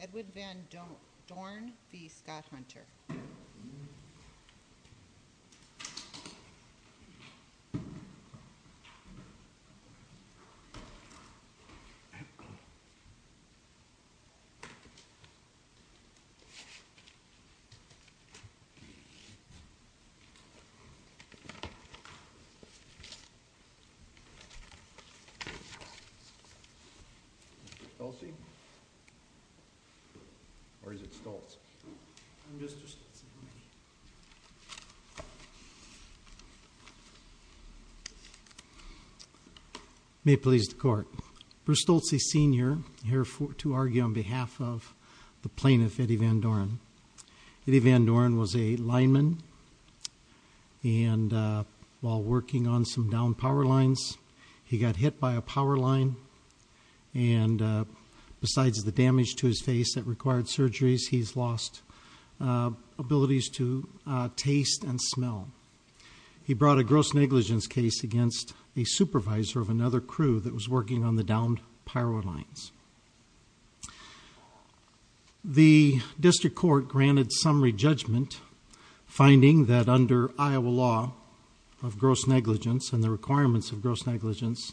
Edwin Van Dorn v. Scott Hunter Mr. Stolze? Or is it Stolze? Mr. Stolze May it please the court. Bruce Stolze Sr. here to argue on behalf of the plaintiff, Eddie Van Dorn. Eddie Van Dorn was a lineman and while working on some downed power lines, he got hit by a power line and besides the damage to his face that required surgeries, he's lost abilities to taste and smell. He brought a gross negligence case against a supervisor of another crew that was working on the downed power lines. The district court granted summary judgment, finding that under Iowa law of gross negligence and the requirements of gross negligence,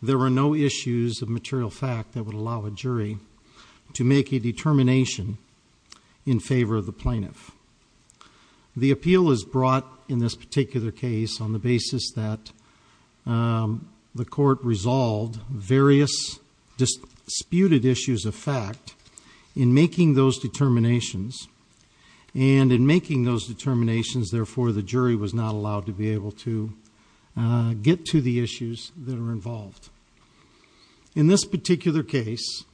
there were no issues of material fact that would allow a jury to make a determination in favor of the plaintiff. The appeal is brought in this particular case on the basis that the court resolved various disputed issues of fact in making those determinations and in making those determinations, therefore the jury was not allowed to be able to get to the issues that are involved. In this particular case,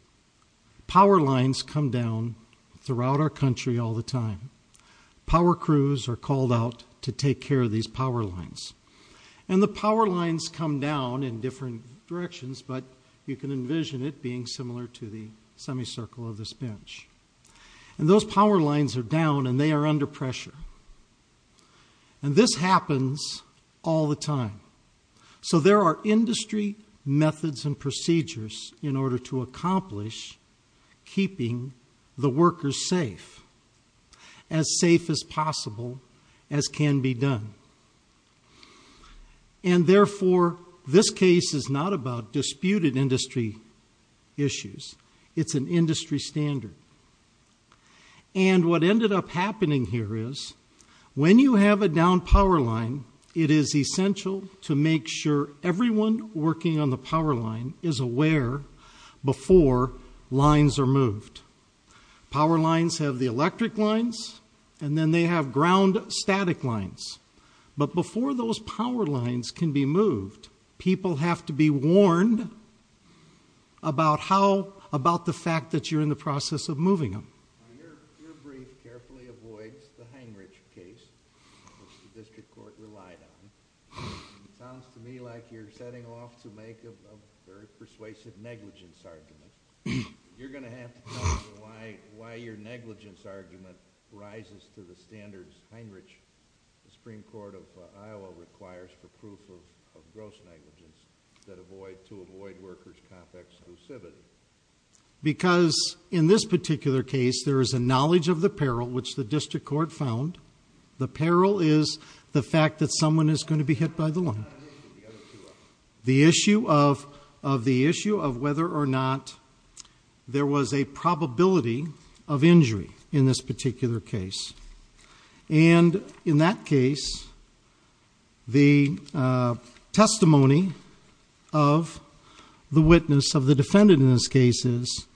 power lines come down throughout our country all the time. Power crews are called out to take care of these power lines and the power lines come down in different directions, but you can envision it being similar to the semicircle of this bench. And those power lines are down and they are under pressure. And this happens all the time. So there are industry methods and procedures in order to accomplish keeping the workers safe, as safe as possible as can be done. And therefore this case is not about disputed industry issues. It's an industry standard. And what ended up happening here is when you have a downed power line, it is essential to make sure everyone working on the power line is aware before lines are moved. Power lines have the electric lines and then they have ground static lines. But before those power lines can be moved, people have to be warned about the fact that you're in the process of moving them. Your brief carefully avoids the Heinrich case, which the district court relied on. It sounds to me like you're setting off to make a very persuasive negligence argument. You're going to have to tell me why your negligence argument rises to the standards Heinrich Supreme Court of Iowa requires for proof of gross negligence to avoid workers' comp-exclusivity. Because in this particular case there is a knowledge of the peril, which the district court found. The peril is the fact that someone is going to be hit by the line. The issue of whether or not there was a probability of injury in this particular case. And in that case, the testimony of the witness of the defendant in this case is,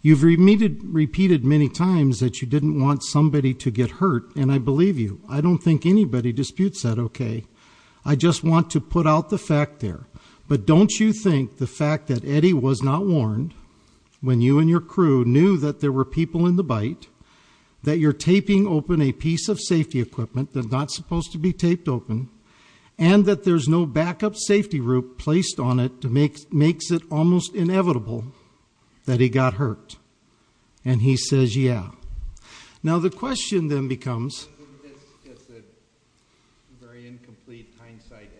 you've repeated many times that you didn't want somebody to get hurt, and I believe you. I don't think anybody disputes that, okay? I just want to put out the fact there. But don't you think the fact that Eddie was not warned, when you and your crew knew that there were people in the bite, that you're taping open a piece of safety equipment that's not supposed to be taped open, and that there's no backup safety rope placed on it, makes it almost inevitable that he got hurt. And he says, yeah. Now the question then becomes... It's just a very incomplete hindsight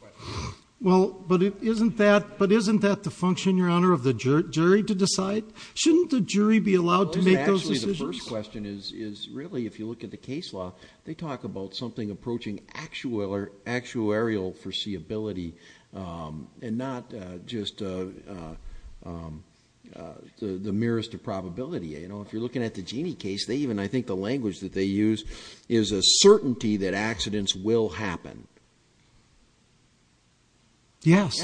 question. Well, but isn't that the function, Your Honor, of the jury to decide? Shouldn't the jury be allowed to make those decisions? Actually, the first question is, really, if you look at the case law, they talk about something approaching actuarial foreseeability and not just the merest of probability. If you're looking at the Jeanne case, I think the language that they use is a certainty that accidents will happen. Yes.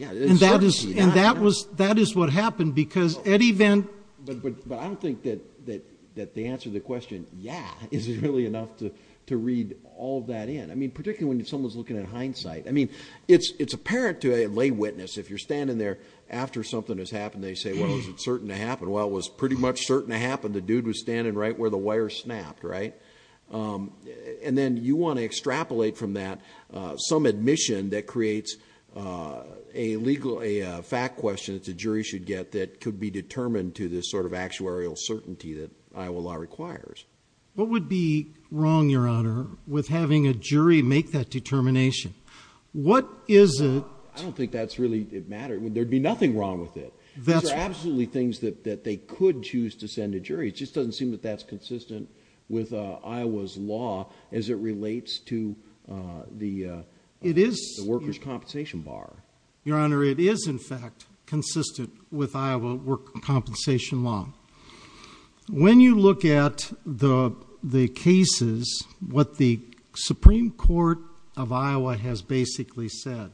And that is what happened, because Eddie Van... But I don't think that the answer to the question, yeah, is really enough to read all of that in. I mean, particularly when someone's looking at hindsight. I mean, it's apparent to a lay witness. If you're standing there after something has happened, they say, well, is it certain to happen? Well, it was pretty much certain to happen. The dude was standing right where the wire snapped, right? And then you want to extrapolate from that some admission that creates a fact question that the jury should get that could be determined to this sort of actuarial certainty that Iowa law requires. What would be wrong, Your Honor, with having a jury make that determination? What is it... I don't think that's really... There'd be nothing wrong with it. These are absolutely things that they could choose to send a jury. It just doesn't seem that that's consistent with Iowa's law as it relates to the workers' compensation bar. Your Honor, it is, in fact, consistent with Iowa workers' compensation law. When you look at the cases, what the Supreme Court of Iowa has basically said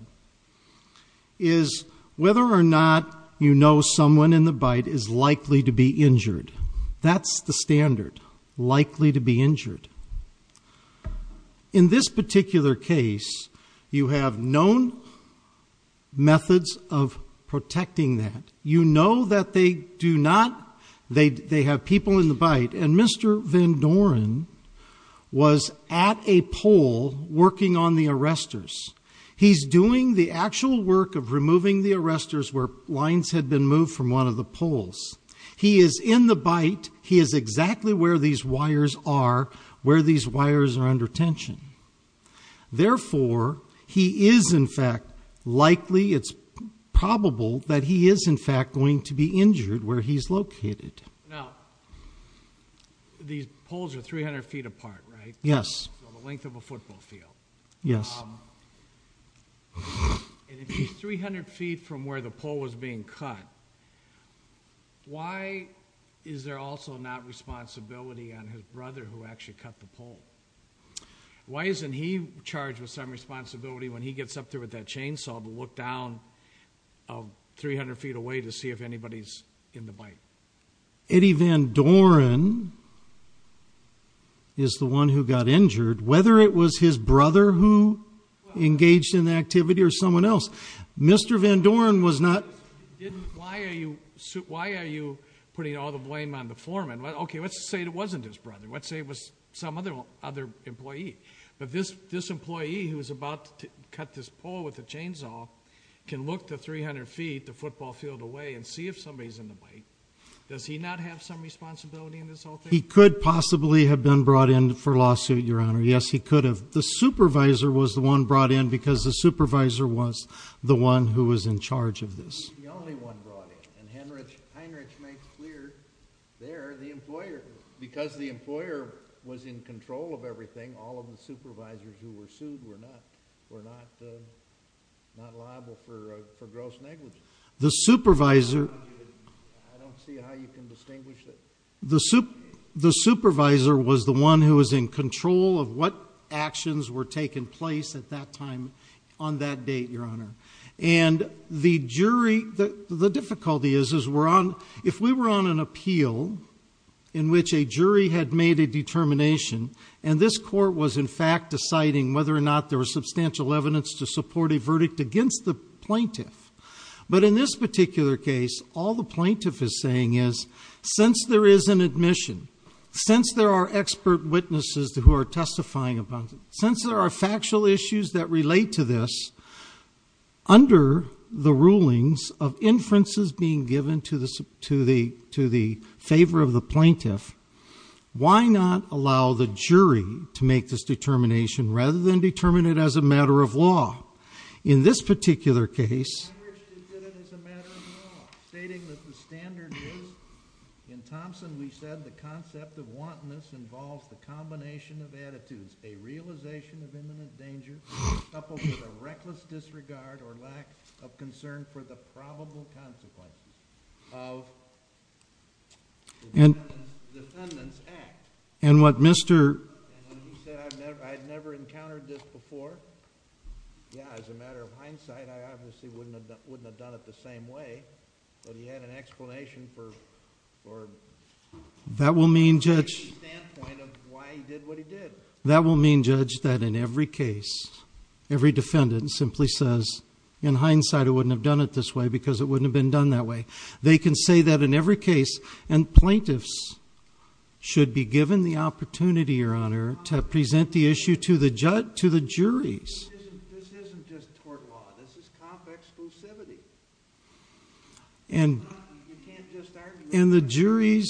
is whether or not you know someone in the bite is likely to be injured. That's the standard, likely to be injured. In this particular case, you have known methods of protecting that. You know that they do not... They have people in the bite, and Mr. Van Doren was at a pole working on the arresters. He's doing the actual work of removing the arresters where lines had been moved from one of the poles. He is in the bite. He is exactly where these wires are, where these wires are under tension. Therefore, he is, in fact, likely, it's probable, that he is, in fact, going to be injured where he's located. Now, these poles are 300 feet apart, right? Yes. The length of a football field. Yes. And if he's 300 feet from where the pole was being cut, why is there also not responsibility on his brother who actually cut the pole? Why isn't he charged with some responsibility when he gets up there with that chainsaw to look down 300 feet away to see if anybody's in the bite? Eddie Van Doren is the one who got injured. Whether it was his brother who engaged in the activity or someone else, Mr. Van Doren was not... Why are you putting all the blame on the foreman? Okay, let's say it wasn't his brother. Let's say it was some other employee. But this employee who was about to cut this pole with the chainsaw can look to 300 feet, the football field away, and see if somebody's in the bite. Does he not have some responsibility in this whole thing? He could possibly have been brought in for lawsuit, Your Honor. Yes, he could have. The supervisor was the one brought in because the supervisor was the one who was in charge of this. He was the only one brought in, and Heinrich makes clear there the employer. Because the employer was in control of everything, all of the supervisors who were sued were not liable for gross negligence. The supervisor... I don't see how you can distinguish that. The supervisor was the one who was in control of what actions were taking place at that time on that date, Your Honor. And the jury... The difficulty is, if we were on an appeal in which a jury had made a determination and this court was in fact deciding whether or not there was substantial evidence to support a verdict against the plaintiff, but in this particular case, all the plaintiff is saying is, since there is an admission, since there are expert witnesses who are testifying upon it, since there are factual issues that relate to this, under the rulings of inferences being given to the favor of the plaintiff, why not allow the jury to make this determination rather than determine it as a matter of law? In this particular case... In Thompson, we said the concept of wantonness involves the combination of attitudes, a realization of imminent danger coupled with a reckless disregard or lack of concern for the probable consequences of the defendant's act. And what Mr... And he said, I'd never encountered this before. Yeah, as a matter of hindsight, I obviously wouldn't have done it the same way, but he had an explanation for... That will mean, Judge... ...standpoint of why he did what he did. That will mean, Judge, that in every case, every defendant simply says, in hindsight, I wouldn't have done it this way because it wouldn't have been done that way. They can say that in every case, and plaintiffs should be given the opportunity, Your Honor, to present the issue to the jury. This isn't just tort law. This is comp exclusivity. And... You can't just argue... And the jury's...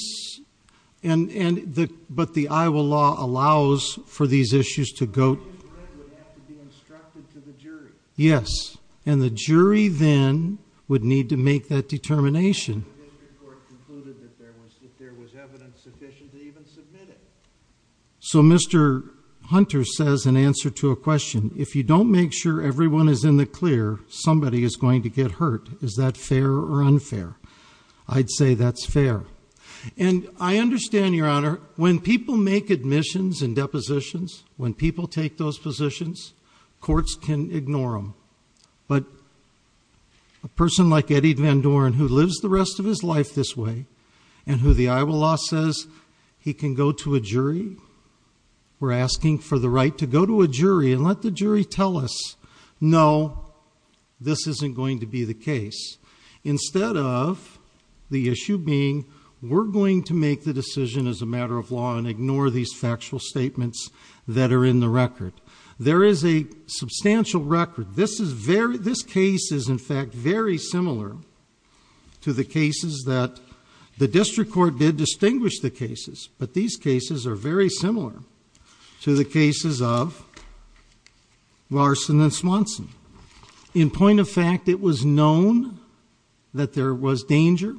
But the Iowa law allows for these issues to go... ...would have to be instructed to the jury. Yes, and the jury then would need to make that determination. The district court concluded that there was evidence sufficient to even submit it. So Mr. Hunter says in answer to a question, if you don't make sure everyone is in the clear, somebody is going to get hurt. Is that fair or unfair? I'd say that's fair. And I understand, Your Honor, when people make admissions and depositions, when people take those positions, courts can ignore them. But a person like Eddie Van Doren, who lives the rest of his life this way, and who the Iowa law says he can go to a jury, we're asking for the right to go to a jury and let the jury tell us, no, this isn't going to be the case. Instead of the issue being, we're going to make the decision as a matter of law and ignore these factual statements that are in the record. There is a substantial record. This case is, in fact, very similar to the cases that... The district court did distinguish the cases, but these cases are very similar to the cases of Larson and Swanson. In point of fact, it was known that there was danger,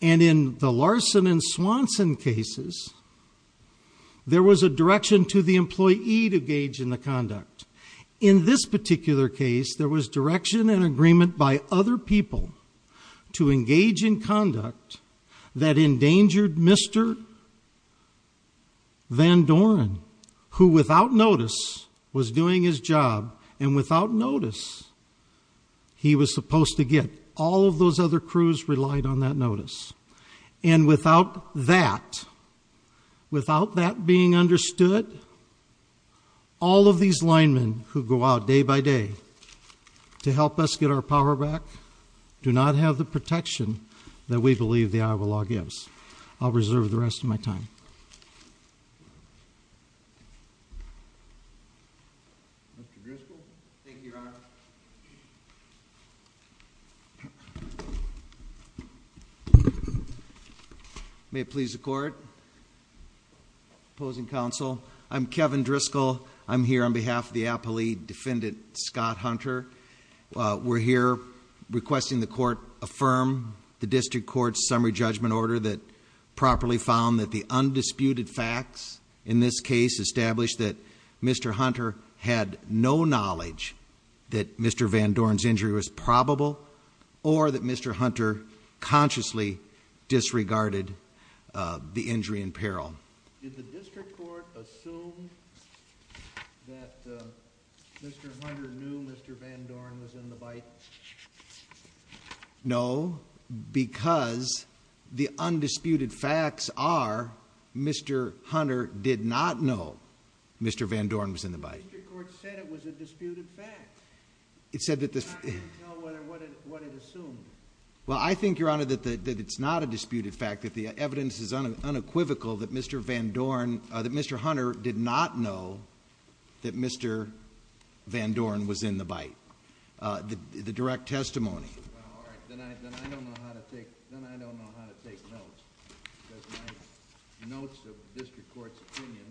and in the Larson and Swanson cases, there was a direction to the employee to engage in the conduct. In this particular case, there was direction and agreement by other people to engage in conduct that endangered Mr. Van Doren, who, without notice, was doing his job, and without notice, he was supposed to get. All of those other crews relied on that notice. And without that, without that being understood, all of these linemen who go out day by day to help us get our power back do not have the protection that we believe the Iowa law gives. I'll reserve the rest of my time. Mr. Driscoll? Thank you, Your Honor. May it please the Court. Opposing counsel. I'm Kevin Driscoll. I'm here on behalf of the Appalachee defendant, Scott Hunter. We're here requesting the Court affirm the District Court's summary judgment order that properly found that the undisputed facts in this case established that Mr. Hunter had no knowledge that Mr. Van Doren's injury was probable or that Mr. Hunter consciously disregarded the injury in peril. Did the District Court assume that Mr. Hunter knew Mr. Van Doren was in the bite? No, because the undisputed facts are Mr. Hunter did not know Mr. Van Doren was in the bite. The District Court said it was a disputed fact. It said that the... I don't know what it assumed. Well, I think, Your Honor, that it's not a disputed fact, that the evidence is unequivocal that Mr. Hunter did not know that Mr. Van Doren was in the bite. The direct testimony. Well, all right. Then I don't know how to take notes. Because my notes of the District Court's opinion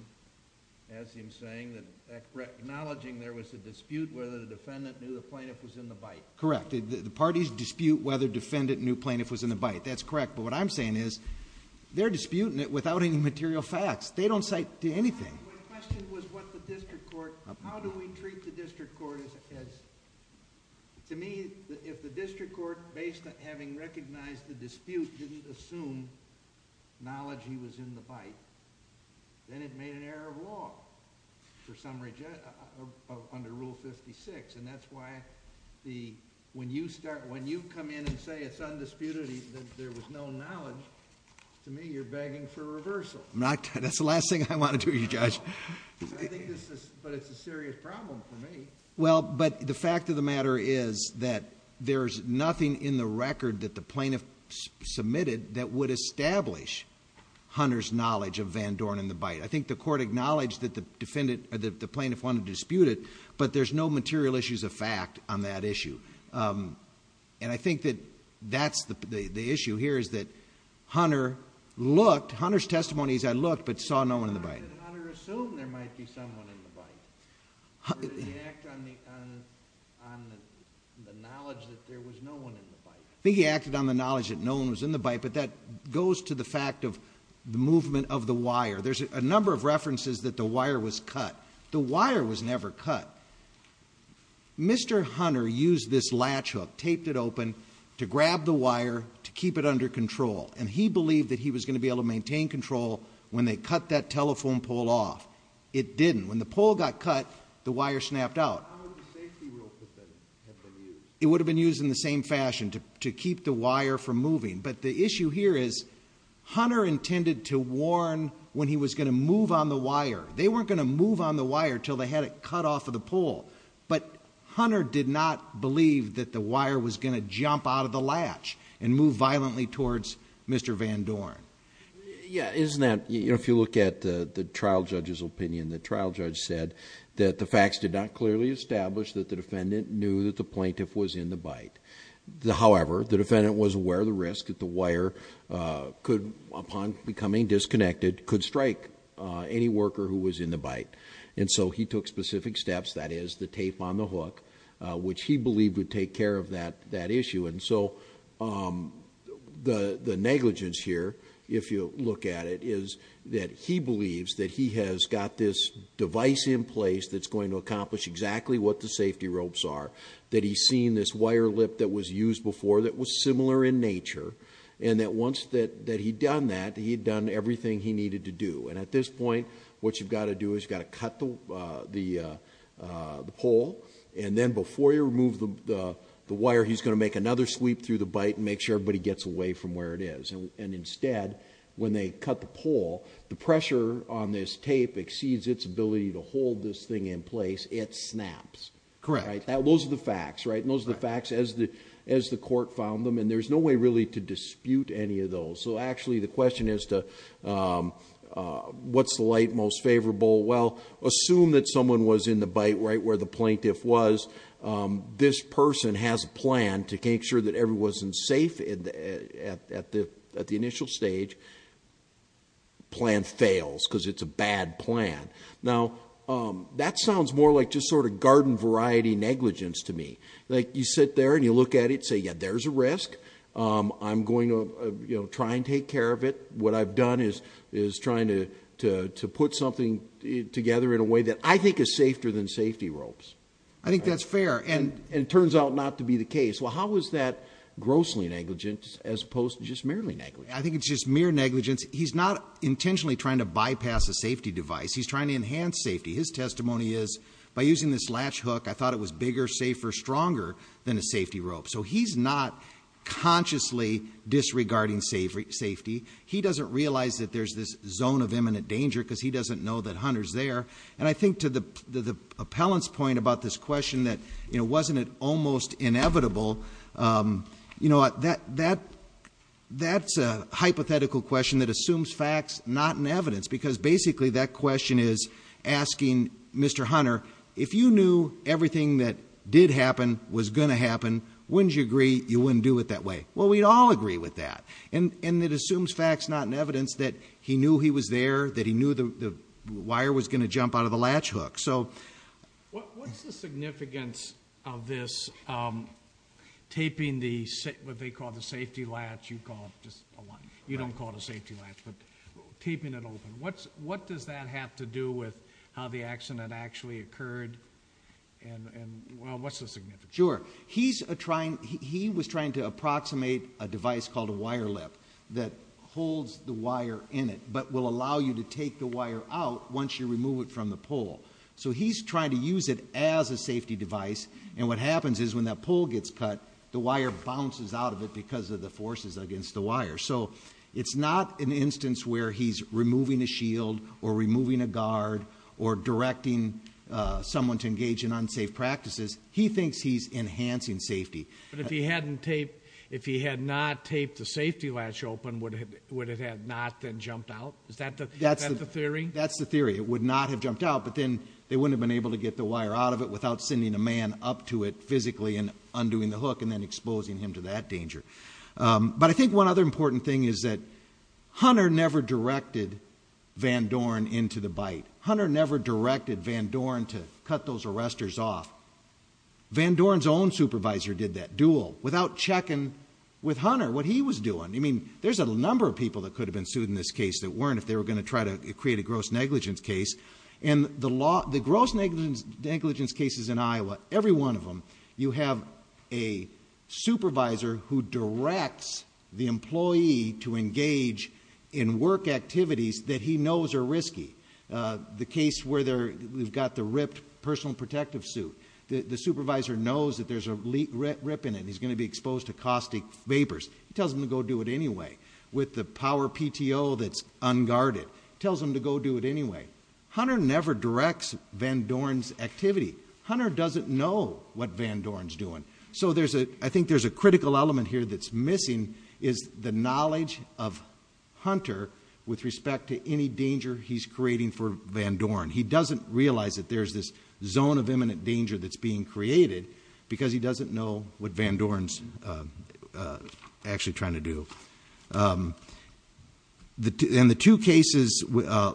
has him saying that acknowledging there was a dispute whether the defendant knew the plaintiff was in the bite. Correct. The parties dispute whether the defendant knew the plaintiff was in the bite. That's correct. But what I'm saying is they're disputing it without any material facts. They don't say anything. My question was what the District Court... How do we treat the District Court as... To me, if the District Court, based on having recognized the dispute, didn't assume knowledge he was in the bite, then it made an error of law under Rule 56. And that's why when you come in and say it's undisputed, that there was no knowledge, to me you're begging for reversal. That's the last thing I want to do, Judge. But it's a serious problem for me. Well, but the fact of the matter is that there's nothing in the record that the plaintiff submitted that would establish Hunter's knowledge of Van Doren in the bite. I think the Court acknowledged that the plaintiff wanted to dispute it, but there's no material issues of fact on that issue. And I think that that's the issue here, is that Hunter looked... Hunter's testimony is I looked but saw no one in the bite. Did Hunter assume there might be someone in the bite? Or did he act on the knowledge that there was no one in the bite? I think he acted on the knowledge that no one was in the bite, but that goes to the fact of the movement of the wire. There's a number of references that the wire was cut. The wire was never cut. Mr. Hunter used this latch hook, taped it open, to grab the wire to keep it under control, and he believed that he was going to be able to maintain control when they cut that telephone pole off. It didn't. When the pole got cut, the wire snapped out. It would have been used in the same fashion to keep the wire from moving. But the issue here is Hunter intended to warn when he was going to move on the wire. They weren't going to move on the wire until they had it cut off of the pole. But Hunter did not believe that the wire was going to jump out of the latch and move violently towards Mr. Van Dorn. Yeah, isn't that... If you look at the trial judge's opinion, the trial judge said that the facts did not clearly establish that the defendant knew that the plaintiff was in the bite. However, the defendant was aware of the risk that the wire could, upon becoming disconnected, could strike any worker who was in the bite. And so he took specific steps, that is, the tape on the hook, which he believed would take care of that issue. And so the negligence here, if you look at it, is that he believes that he has got this device in place that's going to accomplish exactly what the safety ropes are, that he's seen this wire lip that was used before that was similar in nature, and that once that he'd done that, he'd done everything he needed to do. And at this point, what you've got to do is you've got to cut the pole, and then before you remove the wire, he's going to make another sweep through the bite and make sure everybody gets away from where it is. And instead, when they cut the pole, the pressure on this tape exceeds its ability to hold this thing in place. It snaps. Correct. Those are the facts, right? And those are the facts as the court found them. And there's no way really to dispute any of those. So actually, the question is to what's the light most favorable? Well, assume that someone was in the bite right where the plaintiff was. This person has a plan to make sure that everyone's safe at the initial stage. The plan fails because it's a bad plan. Now, that sounds more like just sort of garden variety negligence to me. Like you sit there and you look at it and say, yeah, there's a risk. I'm going to try and take care of it. What I've done is trying to put something together in a way that I think is safer than safety ropes. I think that's fair, and it turns out not to be the case. Well, how is that grossly negligent as opposed to just merely negligent? I think it's just mere negligence. He's not intentionally trying to bypass a safety device. He's trying to enhance safety. His testimony is, by using this latch hook, I thought it was bigger, safer, stronger than a safety rope. So he's not consciously disregarding safety. He doesn't realize that there's this zone of imminent danger because he doesn't know that Hunter's there. And I think to the appellant's point about this question that, you know, wasn't it almost inevitable, you know, that's a hypothetical question that assumes facts, not in evidence, because basically that question is asking Mr. Hunter, if you knew everything that did happen was going to happen, wouldn't you agree you wouldn't do it that way? Well, we'd all agree with that. And it assumes facts, not in evidence, that he knew he was there, that he knew the wire was going to jump out of the latch hook. So what's the significance of this taping the what they call the safety latch? You don't call it a safety latch, but taping it open. What does that have to do with how the accident actually occurred, and what's the significance? Sure. He was trying to approximate a device called a wire lip that holds the wire in it but will allow you to take the wire out once you remove it from the pole. So he's trying to use it as a safety device, and what happens is when that pole gets cut, the wire bounces out of it because of the forces against the wire. So it's not an instance where he's removing a shield or removing a guard or directing someone to engage in unsafe practices. He thinks he's enhancing safety. But if he hadn't taped, if he had not taped the safety latch open, would it have not then jumped out? Is that the theory? That's the theory. It would not have jumped out, but then they wouldn't have been able to get the wire out of it without sending a man up to it physically and undoing the hook and then exposing him to that danger. But I think one other important thing is that Hunter never directed Van Dorn into the bite. Hunter never directed Van Dorn to cut those arresters off. Van Dorn's own supervisor did that, Duell, without checking with Hunter what he was doing. I mean, there's a number of people that could have been sued in this case that weren't if they were going to try to create a gross negligence case. And the gross negligence cases in Iowa, every one of them, you have a supervisor who directs the employee to engage in work activities that he knows are risky. The case where we've got the ripped personal protective suit, the supervisor knows that there's a rip in it and he's going to be exposed to caustic vapors. He tells them to go do it anyway. With the power PTO that's unguarded. Tells them to go do it anyway. Hunter never directs Van Dorn's activity. Hunter doesn't know what Van Dorn's doing. So I think there's a critical element here that's missing is the knowledge of Hunter with respect to any danger he's creating for Van Dorn. He doesn't realize that there's this zone of imminent danger that's being created because he doesn't know what Van Dorn's actually trying to do. In the two cases,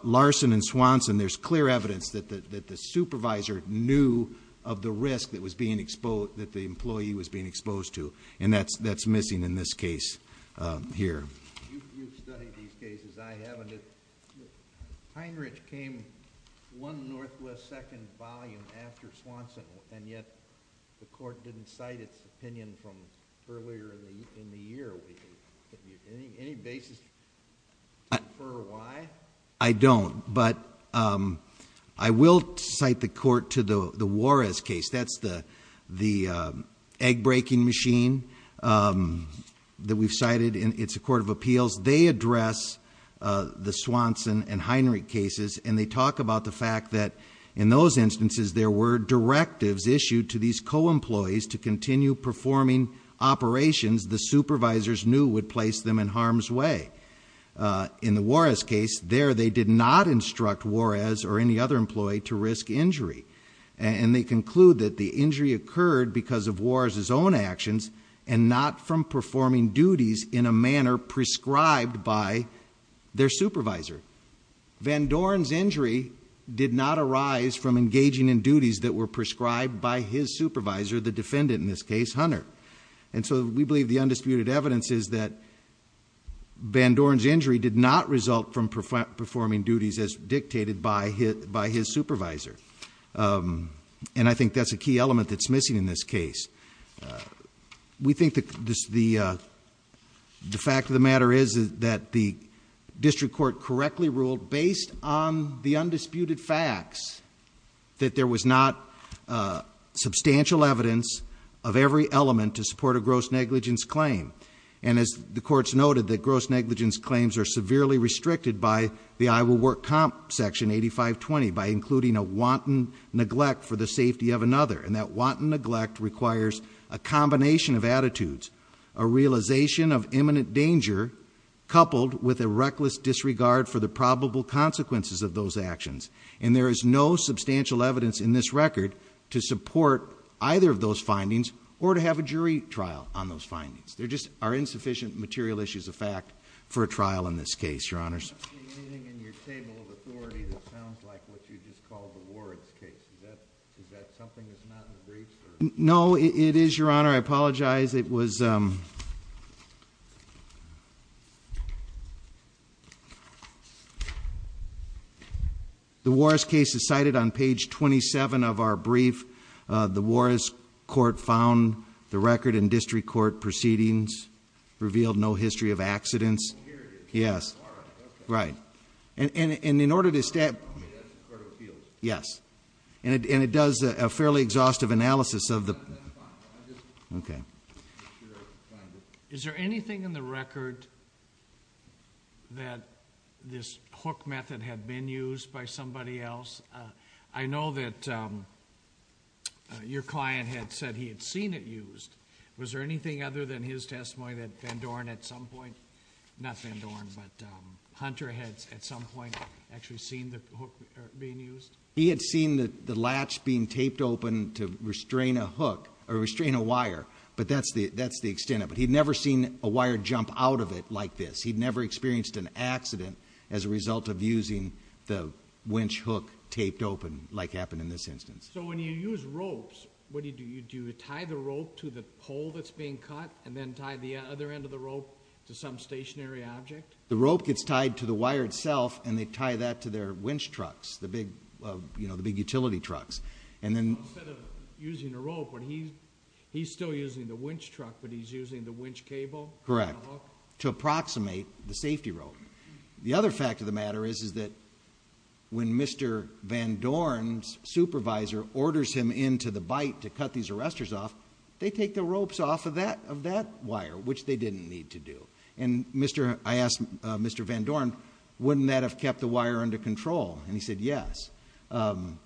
Larson and Swanson, there's clear evidence that the supervisor knew of the risk that the employee was being exposed to, and that's missing in this case here. You've studied these cases. I haven't. Heinrich came one northwest second volume after Swanson, and yet the court didn't cite its opinion from earlier in the year. Any basis for why? I don't, but I will cite the court to the Juarez case. That's the egg-breaking machine that we've cited. It's a court of appeals. They address the Swanson and Heinrich cases, and they talk about the fact that in those instances there were directives issued to these co-employees to continue performing operations the supervisors knew would place them in harm's way. In the Juarez case, there they did not instruct Juarez or any other employee to risk injury, and they conclude that the injury occurred because of Juarez's own actions and not from performing duties in a manner prescribed by their supervisor. Van Doren's injury did not arise from engaging in duties that were prescribed by his supervisor, the defendant in this case, Hunter. And so we believe the undisputed evidence is that Van Doren's injury did not result from performing duties as dictated by his supervisor, and I think that's a key element that's missing in this case. We think the fact of the matter is that the district court correctly ruled, based on the undisputed facts, that there was not substantial evidence of every element to support a gross negligence claim. And as the courts noted, the gross negligence claims are severely restricted by the Iowa Work Comp Section 8520 by including a wanton neglect for the safety of another, and that wanton neglect requires a combination of attitudes, a realization of imminent danger, coupled with a reckless disregard for the probable consequences of those actions. And there is no substantial evidence in this record to support either of those findings or to have a jury trial on those findings. There just are insufficient material issues of fact for a trial in this case, Your Honors. I'm not seeing anything in your table of authority that sounds like what you just called the Warren's case. Is that something that's not in the briefs? No, it is, Your Honor. I apologize. It was... The Warren's case is cited on page 27 of our brief. The Warren's court found the record in district court proceedings revealed no history of accidents. Period. Yes. All right, okay. Right. And in order to... That's in Cordo Field. Yes. And it does a fairly exhaustive analysis of the... That's fine. I'm just making sure I find it. Is there anything in the record that this hook method had been used by somebody else? I know that your client had said he had seen it used. Was there anything other than his testimony that Van Dorn at some point... Not Van Dorn, but Hunter had at some point actually seen the hook being used? He had seen the latch being taped open to restrain a hook or restrain a wire, but that's the extent of it. He'd never seen a wire jump out of it like this. He'd never experienced an accident as a result of using the winch hook taped open like happened in this instance. So when you use ropes, what do you do? Do you tie the rope to the pole that's being cut and then tie the other end of the rope to some stationary object? The rope gets tied to the wire itself, and they tie that to their winch trucks, the big utility trucks. Instead of using a rope, he's still using the winch truck, but he's using the winch cable? Correct, to approximate the safety rope. The other fact of the matter is that when Mr. Van Dorn's supervisor orders him into the bite to cut these arrestors off, they take the ropes off of that wire, which they didn't need to do. And I asked Mr. Van Dorn, wouldn't that have kept the wire under control? And he said yes. And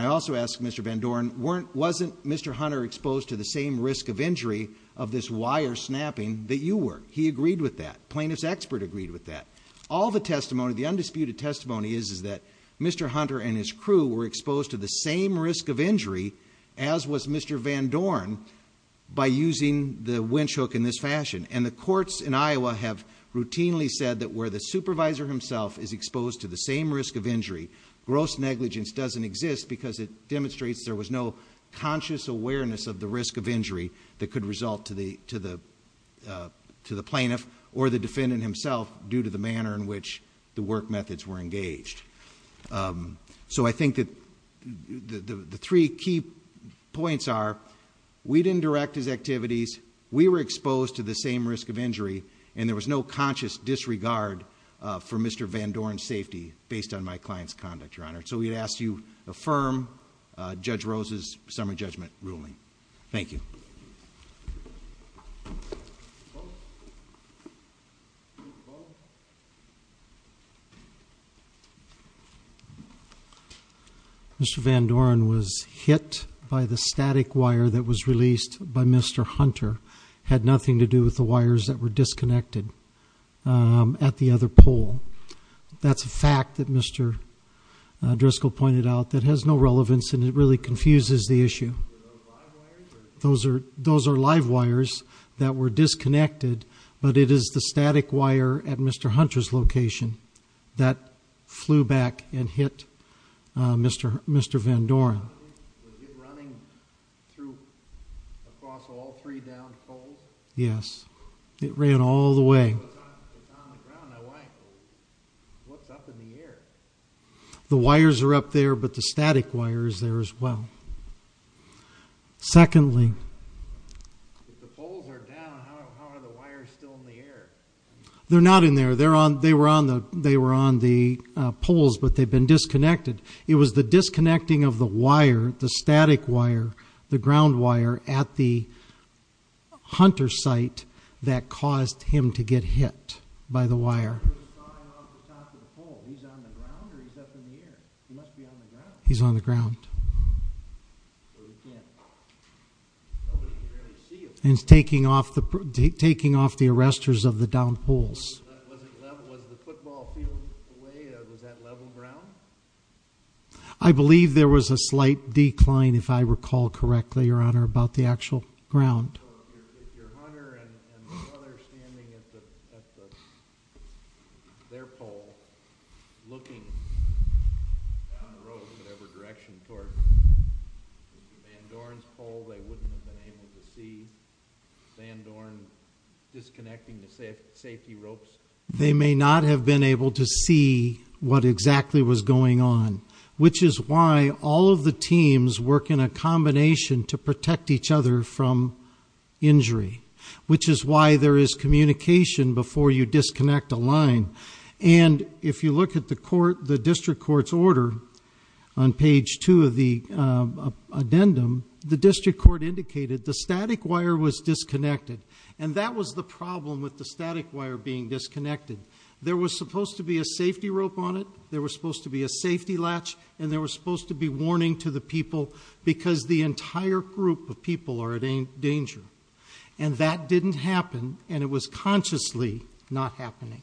I also asked Mr. Van Dorn, wasn't Mr. Hunter exposed to the same risk of injury of this wire snapping that you were? He agreed with that. Plaintiff's expert agreed with that. All the testimony, the undisputed testimony is that Mr. Hunter and his crew were exposed to the same risk of injury as was Mr. Van Dorn by using the winch hook in this fashion. And the courts in Iowa have routinely said that where the supervisor himself is exposed to the same risk of injury, gross negligence doesn't exist because it demonstrates there was no conscious awareness of the risk of injury that could result to the plaintiff or the defendant himself due to the manner in which the work methods were engaged. So I think that the three key points are, we didn't direct his activities, we were exposed to the same risk of injury, and there was no conscious disregard for Mr. Van Dorn's safety based on my client's conduct, Your Honor. So we'd ask you affirm Judge Rose's summary judgment ruling. Thank you. Mr. Van Dorn was hit by the static wire that was released by Mr. Hunter. Had nothing to do with the wires that were disconnected at the other pole. That's a fact that Mr. Driscoll pointed out that has no relevance and it really confuses the issue. Those are live wires that were disconnected, but it is the static wire at Mr. Hunter's location that flew back and hit Mr. Van Dorn. Was it running through across all three downed poles? Yes, it ran all the way. What's up in the air? The wires are up there, but the static wire is there as well. Secondly- If the poles are down, how are the wires still in the air? They're not in there. They were on the poles, but they've been disconnected. It was the disconnecting of the wire, the static wire, the ground wire, at the Hunter site that caused him to get hit by the wire. He was flying off the top of the pole. He's on the ground or he's up in the air? He must be on the ground. He's on the ground. Nobody can really see him. He's taking off the arrestors of the downed poles. Was the football field away? Was that level ground? I believe there was a slight decline, if I recall correctly, Your Honor, about the actual ground. So if you're Hunter and the weather's standing at their pole, looking down the road in whatever direction toward Van Dorn's pole, they wouldn't have been able to see Van Dorn disconnecting the safety ropes? They may not have been able to see what exactly was going on, which is why all of the teams work in a combination to protect each other from injury, which is why there is communication before you disconnect a line. And if you look at the district court's order on page 2 of the addendum, the district court indicated the static wire was disconnected, and that was the problem with the static wire being disconnected. There was supposed to be a safety rope on it, there was supposed to be a safety latch, and there was supposed to be warning to the people because the entire group of people are in danger. And that didn't happen, and it was consciously not happening.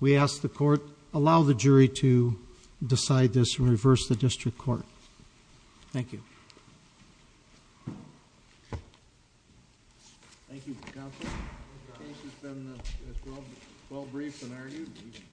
We ask the court, allow the jury to decide this and reverse the district court. Thank you. Thank you, counsel. Case has been well briefed and argued.